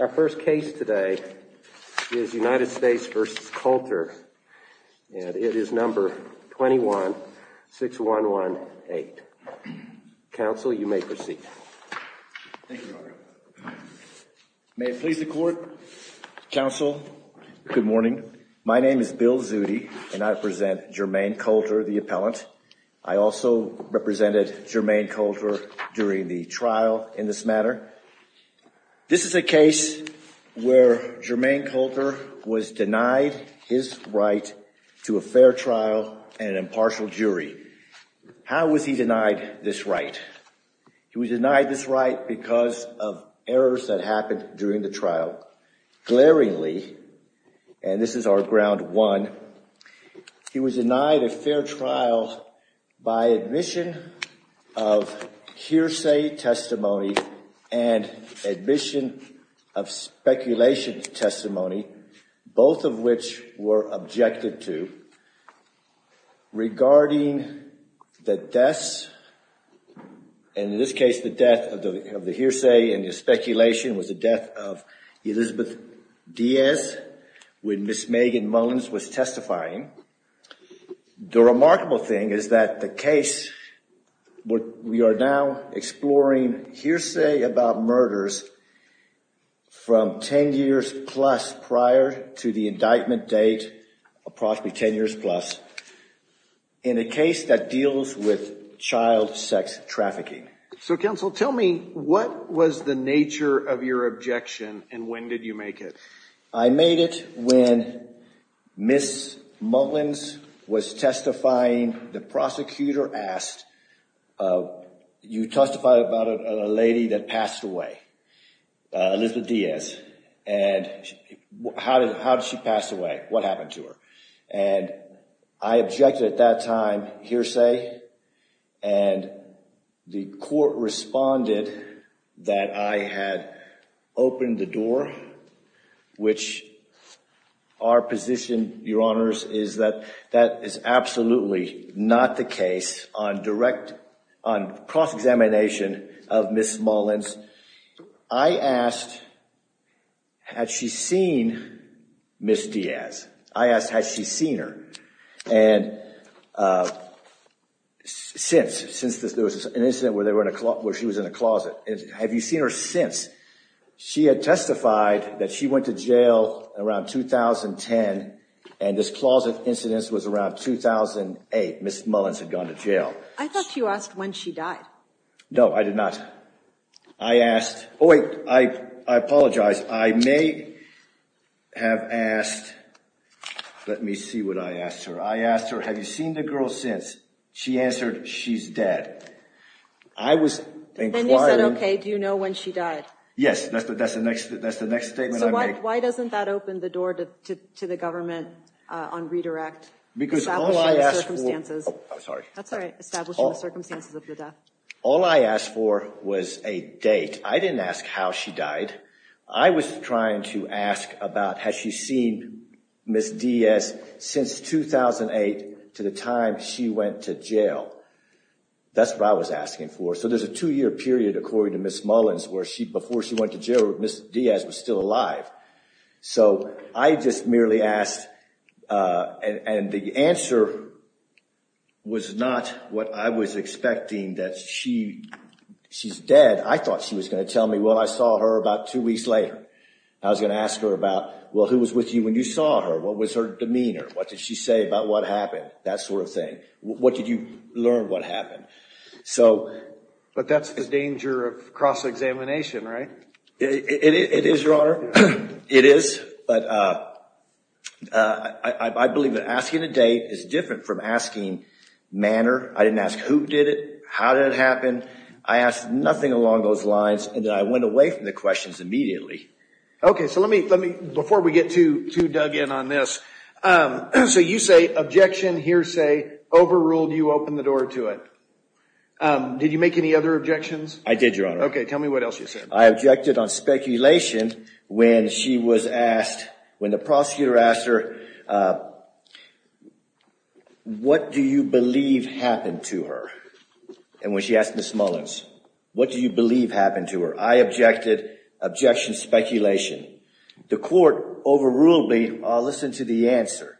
Our first case today is United States v. Coulter and it is number 21-6118. Counsel, you may proceed. Thank you, Your Honor. May it please the Court, Counsel, good morning. My name is Bill Zudi and I represent Jermaine Coulter, the appellant. I also represented Jermaine Coulter during the trial in this matter. This is a case where Jermaine Coulter was denied his right to a fair trial and an impartial jury. How was he denied this right? He was denied this right because of errors that happened during the trial. Glaringly, and this is our ground one, he was denied a fair trial by admission of hearsay testimony and admission of speculation testimony, both of which were objected to regarding the deaths, and in this case, the death of the hearsay and the speculation was the death of Elizabeth Diaz when Ms. Megan Moens was testifying. The remarkable thing is that the case we are now exploring hearsay about murders from 10 years plus prior to the indictment date, approximately 10 years plus, in a case that deals with child sex trafficking. So, Counsel, tell me what was the nature of your objection and when did you make it? I made it when Ms. Moens was testifying. The prosecutor asked, you testified about a lady that passed away, Elizabeth Diaz, and how did she pass away? What happened to her? And I objected at that time, hearsay, and the court responded that I had opened the door, which our position, Your Honors, is that that is absolutely not the case on cross-examination of Ms. Moens. I asked, had she seen Ms. Diaz? I asked, had she seen her? And since, since there was an incident where she was in a closet, have you seen her since? She had testified that she went to jail around 2010 and this closet incident was around 2008. Ms. Moens had gone to jail. I thought you asked when she died. No, I did not. I asked, oh wait, I apologize. I may have asked, let me see what I asked her. I asked her, have you seen the girl since? She answered, she's dead. I was inquiring. Then you said, okay, do you know when she died? Yes, that's the next statement I made. So why doesn't that open the door to the government on redirect? Because all I asked for. Establishing the circumstances. Oh, I'm sorry. That's all right, establishing the circumstances of the death. All I asked for was a date. I didn't ask how she died. I was trying to ask about, has she seen Ms. Diaz since 2008 to the time she went to jail? That's what I was asking for. So there's a two-year period, according to Ms. Moens, where before she went to jail, Ms. Diaz was still alive. So I just merely asked, and the answer was not what I was expecting, that she's dead. I thought she was going to tell me, well, I saw her about two weeks later. I was going to ask her about, well, who was with you when you saw her? What was her demeanor? What did she say about what happened? That sort of thing. What did you learn what happened? But that's the danger of cross-examination, right? It is, Your Honor. It is. But I believe that asking a date is different from asking manner. I didn't ask who did it, how did it happen. I asked nothing along those lines, and then I went away from the questions immediately. Okay, so let me, before we get too dug in on this, so you say objection, hearsay, overruled, you opened the door to it. Did you make any other objections? I did, Your Honor. Okay, tell me what else you said. I objected on speculation when she was asked, when the prosecutor asked her, what do you believe happened to her? And when she asked Ms. Mullins, what do you believe happened to her? I objected, objection, speculation. The court overruled me, I'll listen to the answer.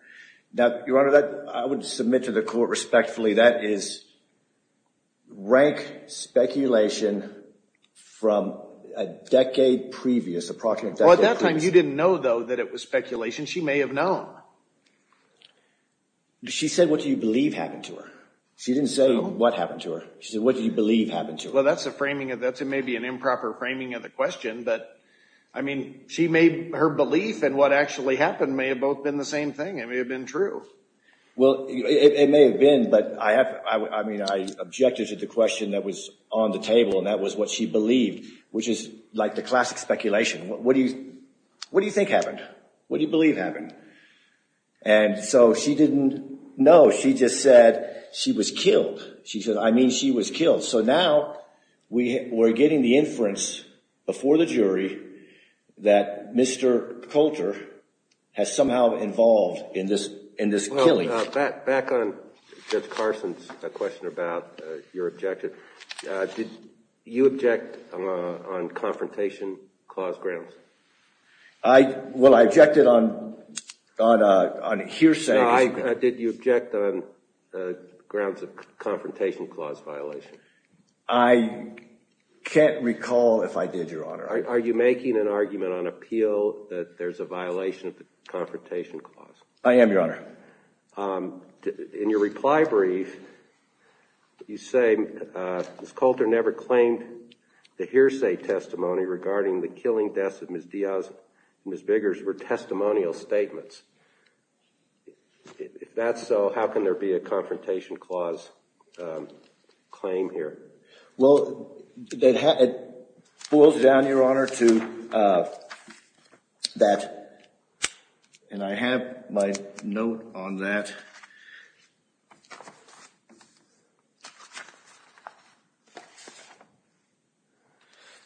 Now, Your Honor, I would submit to the court respectfully that is rank speculation from a decade previous, approximately a decade previous. Well, at that time you didn't know, though, that it was speculation. She may have known. She said what do you believe happened to her. She didn't say what happened to her. She said what do you believe happened to her. Well, that's a framing, that may be an improper framing of the question. I mean, her belief in what actually happened may have both been the same thing. It may have been true. Well, it may have been, but I objected to the question that was on the table, and that was what she believed, which is like the classic speculation. What do you think happened? What do you believe happened? And so she didn't know. She just said she was killed. She said I mean she was killed. So now we're getting the inference before the jury that Mr. Coulter has somehow involved in this killing. Well, back on Judge Carson's question about your objective, did you object on confrontation clause grounds? Well, I objected on hearsay. Did you object on grounds of confrontation clause violation? I can't recall if I did, Your Honor. Are you making an argument on appeal that there's a violation of the confrontation clause? I am, Your Honor. In your reply brief, you say Ms. Coulter never claimed the hearsay testimony regarding the killing deaths of Ms. Diaz and Ms. Biggers were testimonial statements. If that's so, how can there be a confrontation clause claim here? Well, it boils down, Your Honor, to that. And I have my note on that.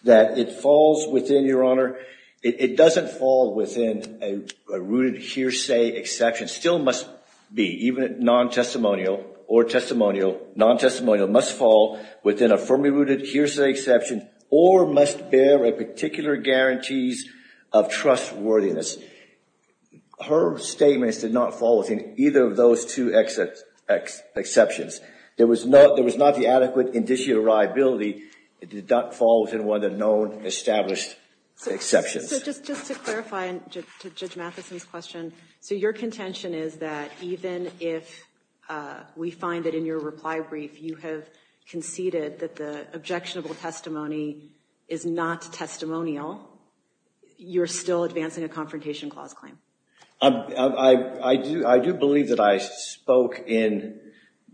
That it falls within, Your Honor, it doesn't fall within a rooted hearsay exception. It still must be, even non-testimonial or testimonial. Non-testimonial must fall within a firmly rooted hearsay exception or must bear a particular guarantees of trustworthiness. Her statements did not fall within either of those two exceptions. There was not the adequate indicial reliability. It did not fall within one of the known established exceptions. So just to clarify to Judge Mathison's question, so your contention is that even if we find that in your reply brief you have conceded that the objectionable testimony is not testimonial, you're still advancing a confrontation clause claim? I do believe that I spoke in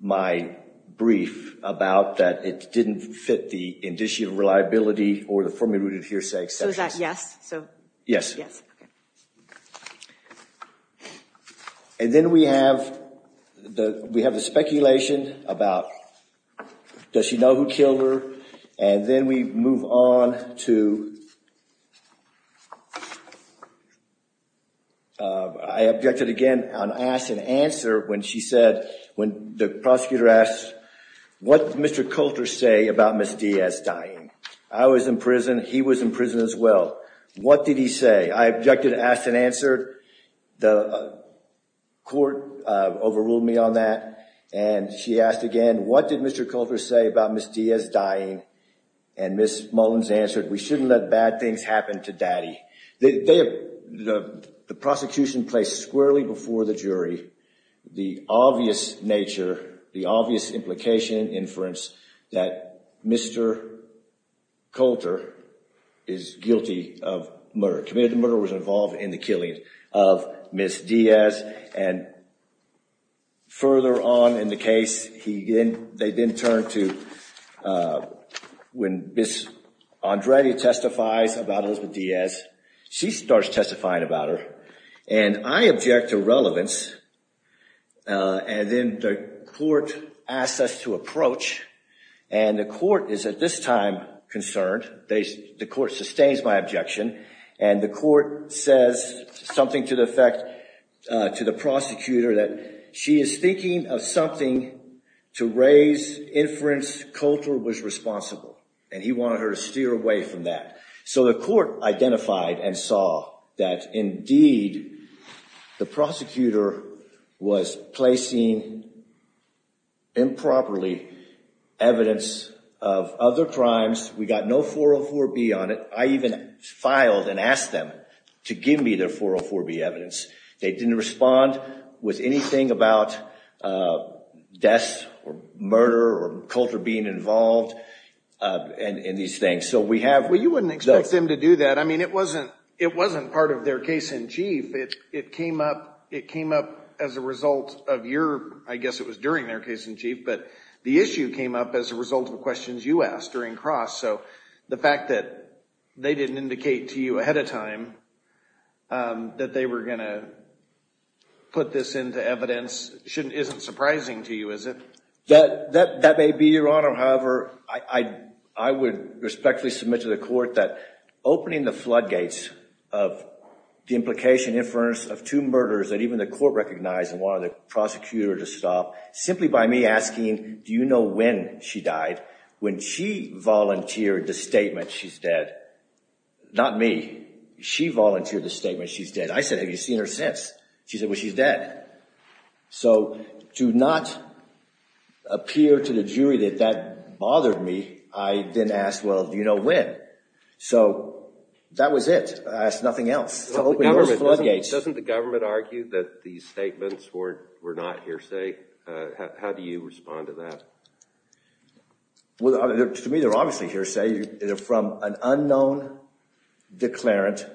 my brief about that it didn't fit the indicial reliability or the firmly rooted hearsay exception. So is that yes? Yes. And then we have the speculation about, does she know who killed her? And then we move on to, I objected again on ask and answer when she said, when the prosecutor asked, what did Mr. Coulter say about Ms. Diaz dying? I was in prison. He was in prison as well. What did he say? I objected to ask and answer. The court overruled me on that. And she asked again, what did Mr. Coulter say about Ms. Diaz dying? And Ms. Mullins answered, we shouldn't let bad things happen to daddy. The prosecution placed squarely before the jury the obvious nature, the obvious implication, inference that Mr. Coulter is guilty of murder, committed the murder, was involved in the killing of Ms. Diaz. And further on in the case, they then turned to, when Ms. Andrade testifies about Elizabeth Diaz, she starts testifying about her. And I object to relevance. And then the court asks us to approach. And the court is at this time concerned. The court sustains my objection. And the court says something to the effect, to the prosecutor, that she is thinking of something to raise inference Coulter was responsible. And he wanted her to steer away from that. So the court identified and saw that indeed the prosecutor was placing improperly evidence of other crimes. We got no 404B on it. I even filed and asked them to give me their 404B evidence. They didn't respond with anything about death or murder or Coulter being involved in these things. So we have – Well, you wouldn't expect them to do that. I mean, it wasn't part of their case in chief. It came up as a result of your – I guess it was during their case in chief. But the issue came up as a result of questions you asked during Cross. So the fact that they didn't indicate to you ahead of time that they were going to put this into evidence isn't surprising to you, is it? That may be, Your Honor. However, I would respectfully submit to the court that opening the floodgates of the implication inference of two murders that even the court recognized and wanted the prosecutor to stop, simply by me asking, do you know when she died? When she volunteered the statement, she's dead. Not me. She volunteered the statement, she's dead. I said, have you seen her since? She said, well, she's dead. So to not appear to the jury that that bothered me, I then asked, well, do you know when? So that was it. I asked nothing else. So opening those floodgates – How do you respond to that? Well, to me, they're obviously hearsay. They're from an unknown declarant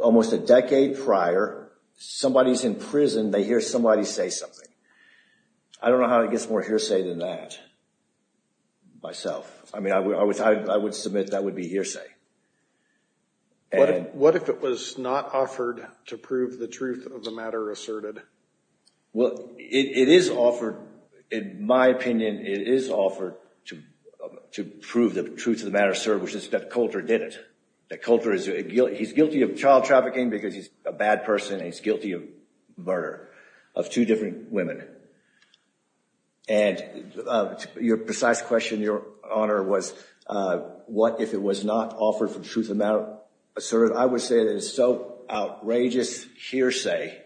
almost a decade prior. Somebody's in prison. They hear somebody say something. I don't know how it gets more hearsay than that myself. I mean, I would submit that would be hearsay. What if it was not offered to prove the truth of the matter asserted? Well, it is offered. In my opinion, it is offered to prove the truth of the matter asserted, which is that Coulter did it. That Coulter is guilty of child trafficking because he's a bad person, and he's guilty of murder of two different women. And your precise question, Your Honor, was what if it was not offered for the truth of the matter asserted? I would say that it's so outrageous hearsay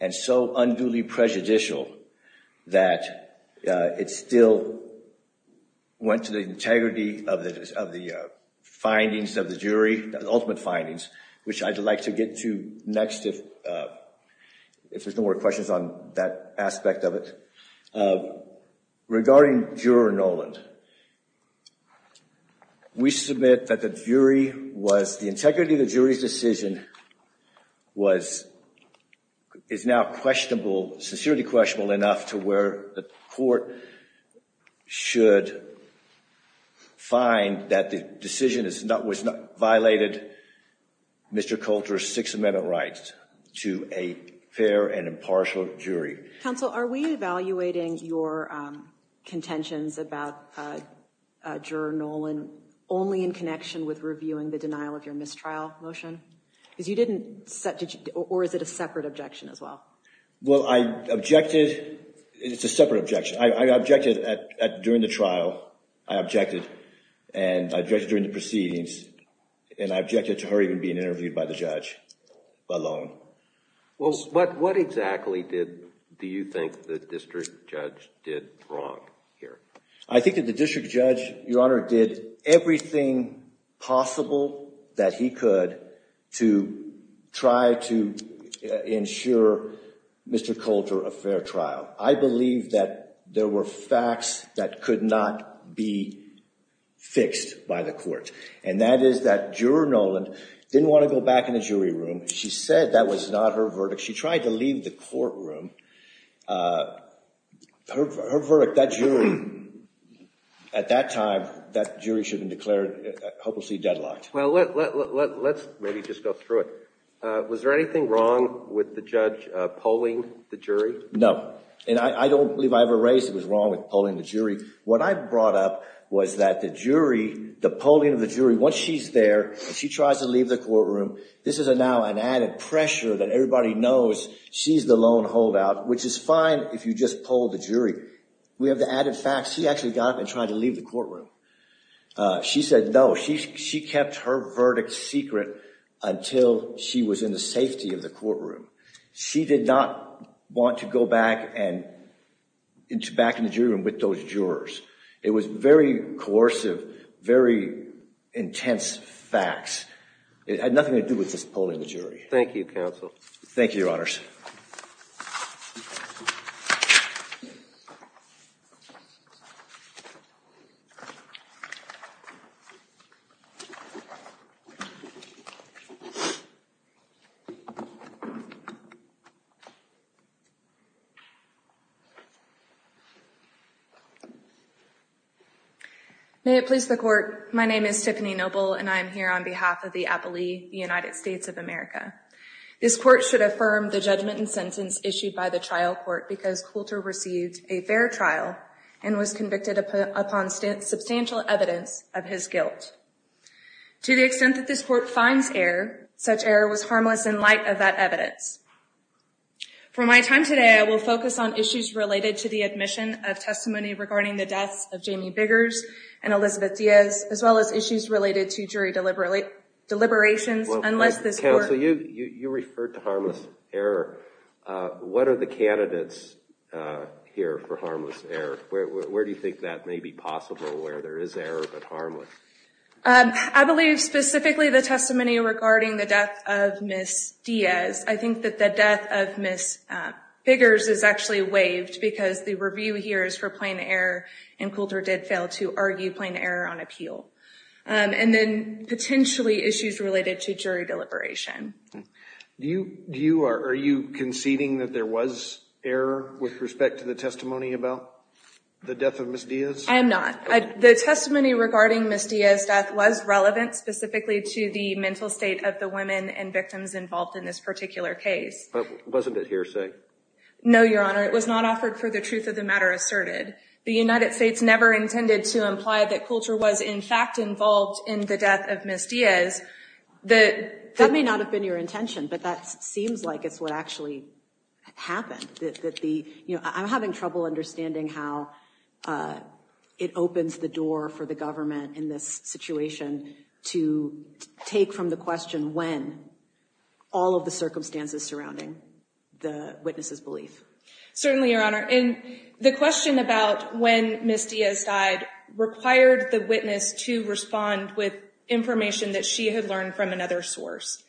and so unduly prejudicial that it still went to the integrity of the findings of the jury, the ultimate findings, which I'd like to get to next if there's no more questions on that aspect of it. Regarding Juror Noland, we submit that the jury was—the integrity of the jury's decision was—is now questionable, sincerely questionable enough to where the court should find that the decision was not—violated Mr. Coulter's Sixth Amendment rights to a fair and impartial jury. Counsel, are we evaluating your contentions about Juror Noland only in connection with reviewing the denial of your mistrial motion? Because you didn't—or is it a separate objection as well? Well, I objected—it's a separate objection. I objected at—during the trial, I objected, and I objected during the proceedings, and I objected to her even being interviewed by the judge alone. Well, what exactly did—do you think the district judge did wrong here? I think that the district judge, Your Honor, did everything possible that he could to try to ensure Mr. Coulter a fair trial. I believe that there were facts that could not be fixed by the court, and that is that Juror Noland didn't want to go back in the jury room. She said that was not her verdict. She tried to leave the courtroom. Her verdict, that jury, at that time, that jury should have been declared hopelessly deadlocked. Well, let's maybe just go through it. Was there anything wrong with the judge polling the jury? No, and I don't believe I ever raised it was wrong with polling the jury. What I brought up was that the jury, the polling of the jury, once she's there, she tries to leave the courtroom. This is now an added pressure that everybody knows she's the lone holdout, which is fine if you just poll the jury. We have the added facts. She actually got up and tried to leave the courtroom. She said no. She kept her verdict secret until she was in the safety of the courtroom. She did not want to go back and—back in the jury room with those jurors. It was very coercive, very intense facts. It had nothing to do with just polling the jury. Thank you, counsel. Thank you, Your Honors. May it please the Court. My name is Tiffany Noble, and I am here on behalf of the appellee, the United States of America. This court should affirm the judgment and sentence issued by the trial court because Coulter received a fair trial and was convicted upon substantial evidence of his guilt. To the extent that this court finds error, such error was harmless in light of that evidence. For my time today, I will focus on issues related to the admission of testimony regarding the deaths of Jamie Biggers and Elizabeth Diaz, as well as issues related to jury deliberations. Unless this court— Counsel, you referred to harmless error. What are the candidates here for harmless error? Where do you think that may be possible where there is error but harmless? I believe specifically the testimony regarding the death of Ms. Diaz. I think that the death of Ms. Biggers is actually waived because the review here is for plain error, and Coulter did fail to argue plain error on appeal. And then potentially issues related to jury deliberation. Are you conceding that there was error with respect to the testimony about the death of Ms. Diaz? I am not. The testimony regarding Ms. Diaz's death was relevant specifically to the mental state of the women and victims involved in this particular case. Wasn't it hearsay? No, Your Honor. It was not offered for the truth of the matter asserted. The United States never intended to imply that Coulter was in fact involved in the death of Ms. Diaz. That may not have been your intention, but that seems like it's what actually happened. I'm having trouble understanding how it opens the door for the government in this situation to take from the question when all of the circumstances surrounding the witness's belief. Certainly, Your Honor. The question about when Ms. Diaz died required the witness to respond with information that she had learned from another source.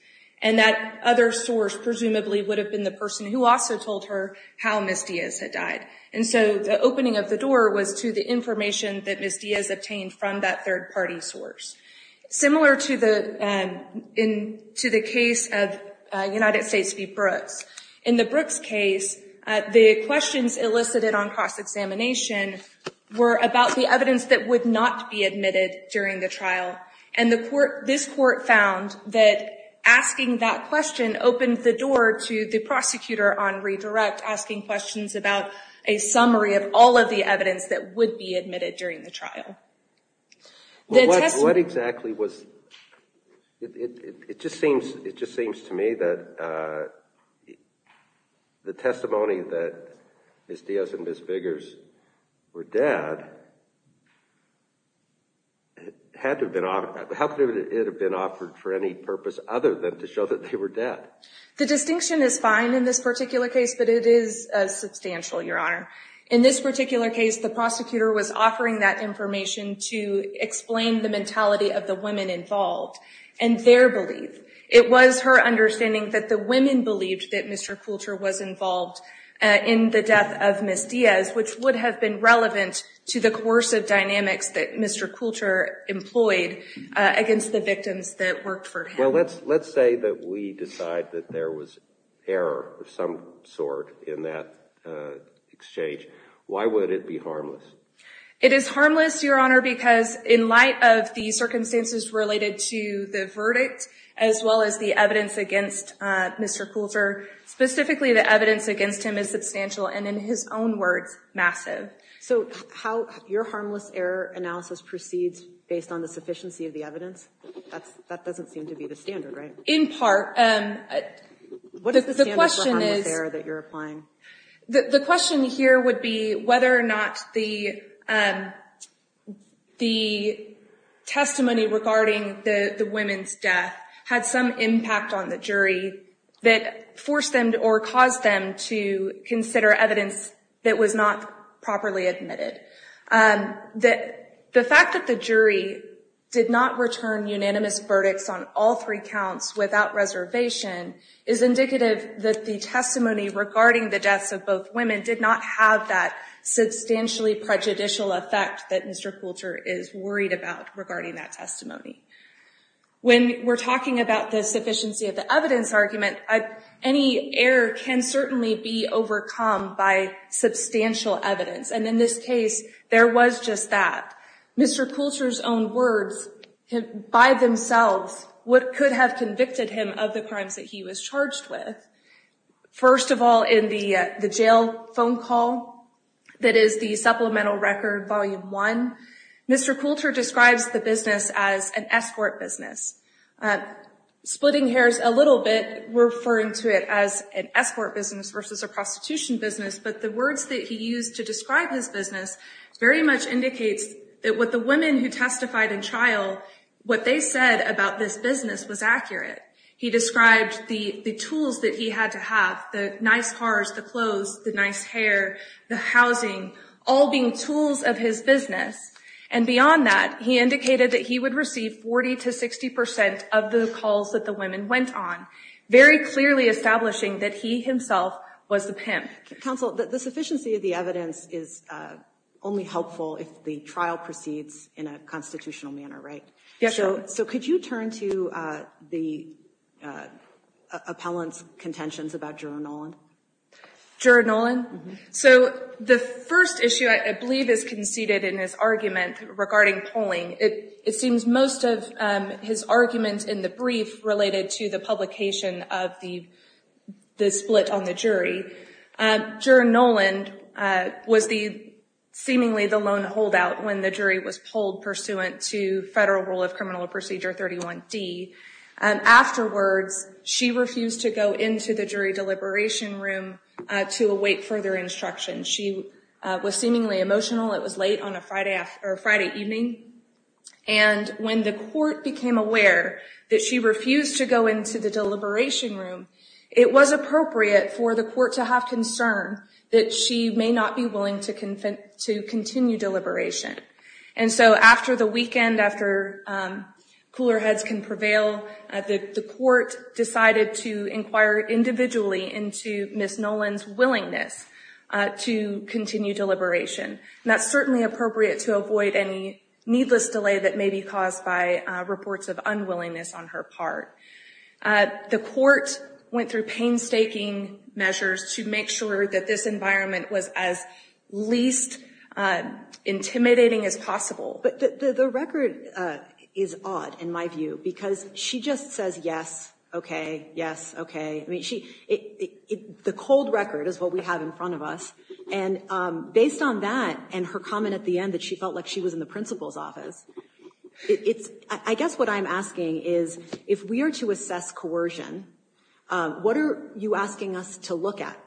And that other source presumably would have been the person who also told her how Ms. Diaz had died. And so the opening of the door was to the information that Ms. Diaz obtained from that third-party source. Similar to the case of United States v. Brooks. In the Brooks case, the questions elicited on cross-examination were about the evidence that would not be admitted during the trial. And this court found that asking that question opened the door to the prosecutor on redirect, asking questions about a summary of all of the evidence that would be admitted during the trial. What exactly was... It just seems to me that the testimony that Ms. Diaz and Ms. Biggers were dead had to have been... How could it have been offered for any purpose other than to show that they were dead? The distinction is fine in this particular case, but it is substantial, Your Honor. In this particular case, the prosecutor was offering that information to explain the mentality of the women involved and their belief. It was her understanding that the women believed that Mr. Coulter was involved in the death of Ms. Diaz, which would have been relevant to the coercive dynamics that Mr. Coulter employed against the victims that worked for him. Now, let's say that we decide that there was error of some sort in that exchange. Why would it be harmless? It is harmless, Your Honor, because in light of the circumstances related to the verdict, as well as the evidence against Mr. Coulter, specifically the evidence against him is substantial, and in his own words, massive. So your harmless error analysis proceeds based on the sufficiency of the evidence? That doesn't seem to be the standard, right? In part. What is the standard for harmless error that you're applying? The question here would be whether or not the testimony regarding the women's death had some impact on the jury that forced them or caused them to consider evidence that was not properly admitted. The fact that the jury did not return unanimous verdicts on all three counts without reservation is indicative that the testimony regarding the deaths of both women did not have that substantially prejudicial effect that Mr. Coulter is worried about regarding that testimony. When we're talking about the sufficiency of the evidence argument, any error can certainly be overcome by substantial evidence, and in this case, there was just that. Mr. Coulter's own words, by themselves, what could have convicted him of the crimes that he was charged with. First of all, in the jail phone call, that is the supplemental record volume one, Mr. Coulter describes the business as an escort business. Splitting hairs a little bit, referring to it as an escort business versus a prostitution business, but the words that he used to describe his business very much indicates that what the women who testified in trial, what they said about this business was accurate. He described the tools that he had to have, the nice cars, the clothes, the nice hair, the housing, all being tools of his business, and beyond that, he indicated that he would receive 40 to 60 percent of the calls that the women went on, Counsel, the sufficiency of the evidence is only helpful if the trial proceeds in a constitutional manner, right? Yes. So could you turn to the appellant's contentions about Jura Nolan? Jura Nolan? So the first issue, I believe, is conceded in his argument regarding polling. It seems most of his argument in the brief related to the publication of the split on the jury. Jura Nolan was seemingly the lone holdout when the jury was polled pursuant to Federal Rule of Criminal Procedure 31D. Afterwards, she refused to go into the jury deliberation room to await further instruction. She was seemingly emotional. It was late on a Friday evening. And when the court became aware that she refused to go into the deliberation room, it was appropriate for the court to have concern that she may not be willing to continue deliberation. And so after the weekend, after cooler heads can prevail, the court decided to inquire individually into Ms. Nolan's willingness to continue deliberation. And that's certainly appropriate to avoid any needless delay that may be caused by reports of unwillingness on her part. The court went through painstaking measures to make sure that this environment was as least intimidating as possible. But the record is odd, in my view, because she just says, yes, OK, yes, OK. I mean, the cold record is what we have in front of us. And based on that and her comment at the end that she felt like she was in the principal's office, I guess what I'm asking is if we are to assess coercion, what are you asking us to look at?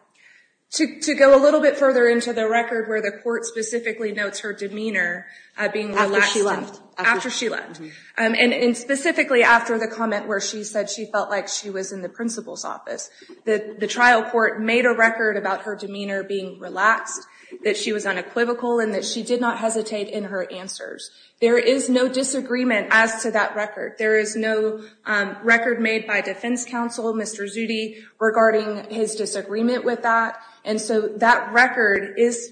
To go a little bit further into the record where the court specifically notes her demeanor being relaxed. After she left. After she left. And specifically after the comment where she said she felt like she was in the principal's office. The trial court made a record about her demeanor being relaxed, that she was unequivocal, and that she did not hesitate in her answers. There is no disagreement as to that record. There is no record made by defense counsel, Mr. Zudi, regarding his disagreement with that. And so that record is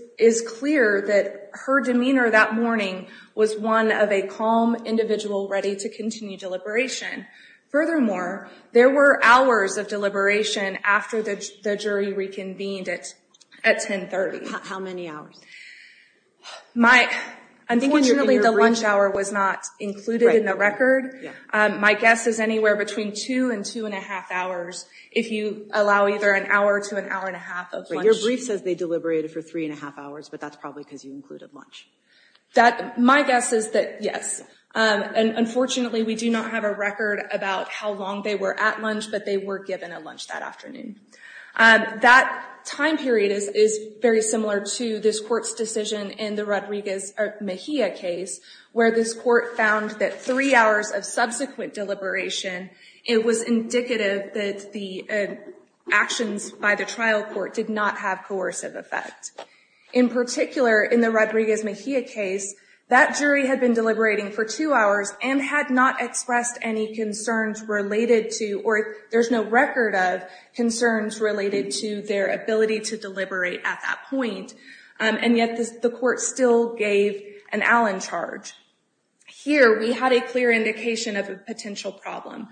clear that her demeanor that morning was one of a calm individual ready to continue deliberation. Furthermore, there were hours of deliberation after the jury reconvened at 1030. How many hours? I'm thinking the lunch hour was not included in the record. My guess is anywhere between two and two and a half hours. If you allow either an hour to an hour and a half of lunch. Your brief says they deliberated for three and a half hours, but that's probably because you included lunch. My guess is that yes. And unfortunately, we do not have a record about how long they were at lunch, but they were given a lunch that afternoon. That time period is very similar to this court's decision in the Rodriguez Mejia case, where this court found that three hours of subsequent deliberation, it was indicative that the actions by the trial court did not have coercive effect. In particular, in the Rodriguez Mejia case, that jury had been deliberating for two hours and had not expressed any concerns related to, or there's no record of concerns related to their ability to deliberate at that point. And yet the court still gave an Allen charge. Here, we had a clear indication of a potential problem.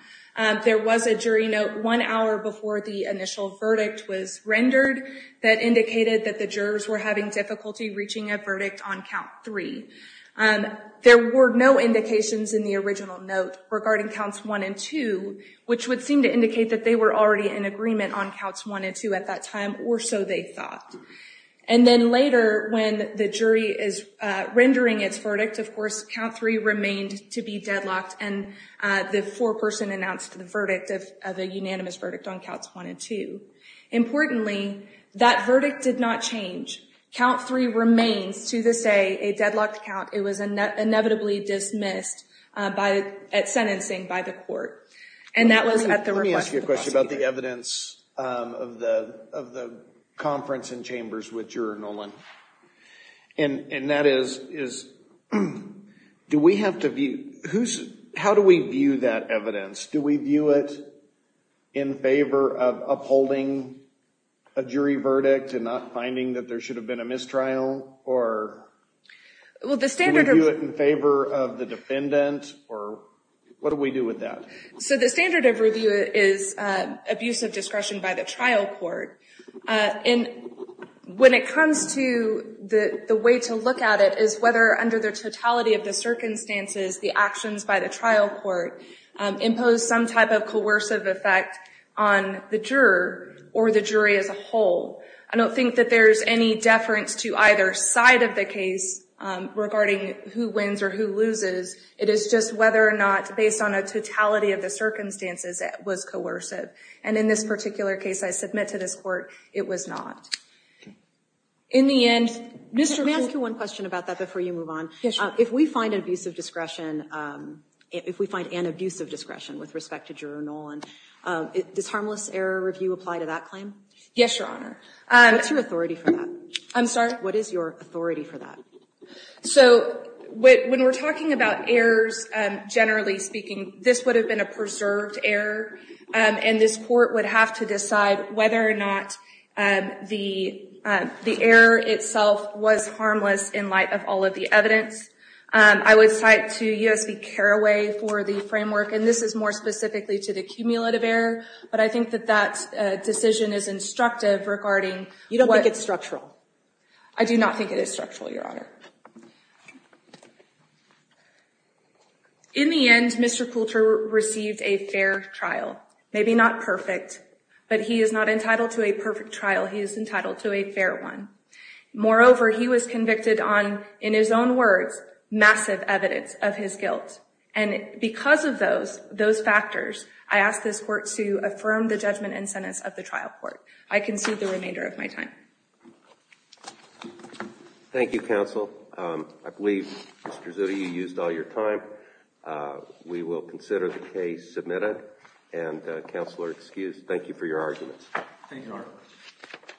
There was a jury note one hour before the initial verdict was rendered that indicated that the jurors were having difficulty reaching a verdict on count three. There were no indications in the original note regarding counts one and two, which would seem to indicate that they were already in agreement on counts one and two at that time, or so they thought. And then later, when the jury is rendering its verdict, of course, count three remained to be deadlocked. And the foreperson announced the verdict of a unanimous verdict on counts one and two. Importantly, that verdict did not change. Count three remains, to this day, a deadlocked count. It was inevitably dismissed at sentencing by the court. And that was at the request of the prosecutor. Let me ask you a question about the evidence of the conference and chambers with Juror Nolan. And that is, how do we view that evidence? Do we view it in favor of upholding a jury verdict and not finding that there should have been a mistrial? Or do we view it in favor of the defendant? Or what do we do with that? So the standard of review is abuse of discretion by the trial court. And when it comes to the way to look at it is whether, under the totality of the circumstances, the actions by the trial court impose some type of coercive effect on the juror or the jury as a whole. I don't think that there's any deference to either side of the case regarding who wins or who loses. It is just whether or not, based on a totality of the circumstances, it was coercive. And in this particular case, I submit to this Court, it was not. In the end, Mr. King. Let me ask you one question about that before you move on. Yes, Your Honor. If we find an abuse of discretion with respect to Juror Nolan, does harmless error review apply to that claim? Yes, Your Honor. What's your authority for that? I'm sorry? What is your authority for that? So when we're talking about errors, generally speaking, this would have been a preserved error. And this Court would have to decide whether or not the error itself was harmless in light of all of the evidence. I would cite to U.S. v. Carraway for the framework, and this is more specifically to the cumulative error. But I think that that decision is instructive regarding what— You don't think it's structural? I do not think it is structural, Your Honor. In the end, Mr. Coulter received a fair trial. Maybe not perfect, but he is not entitled to a perfect trial. He is entitled to a fair one. Moreover, he was convicted on, in his own words, massive evidence of his guilt. And because of those factors, I ask this Court to affirm the judgment and sentence of the trial court. I concede the remainder of my time. Thank you, Counsel. I believe, Mr. Zuta, you used all your time. We will consider the case submitted. And, Counselor, excuse, thank you for your arguments. Thank you, Your Honor.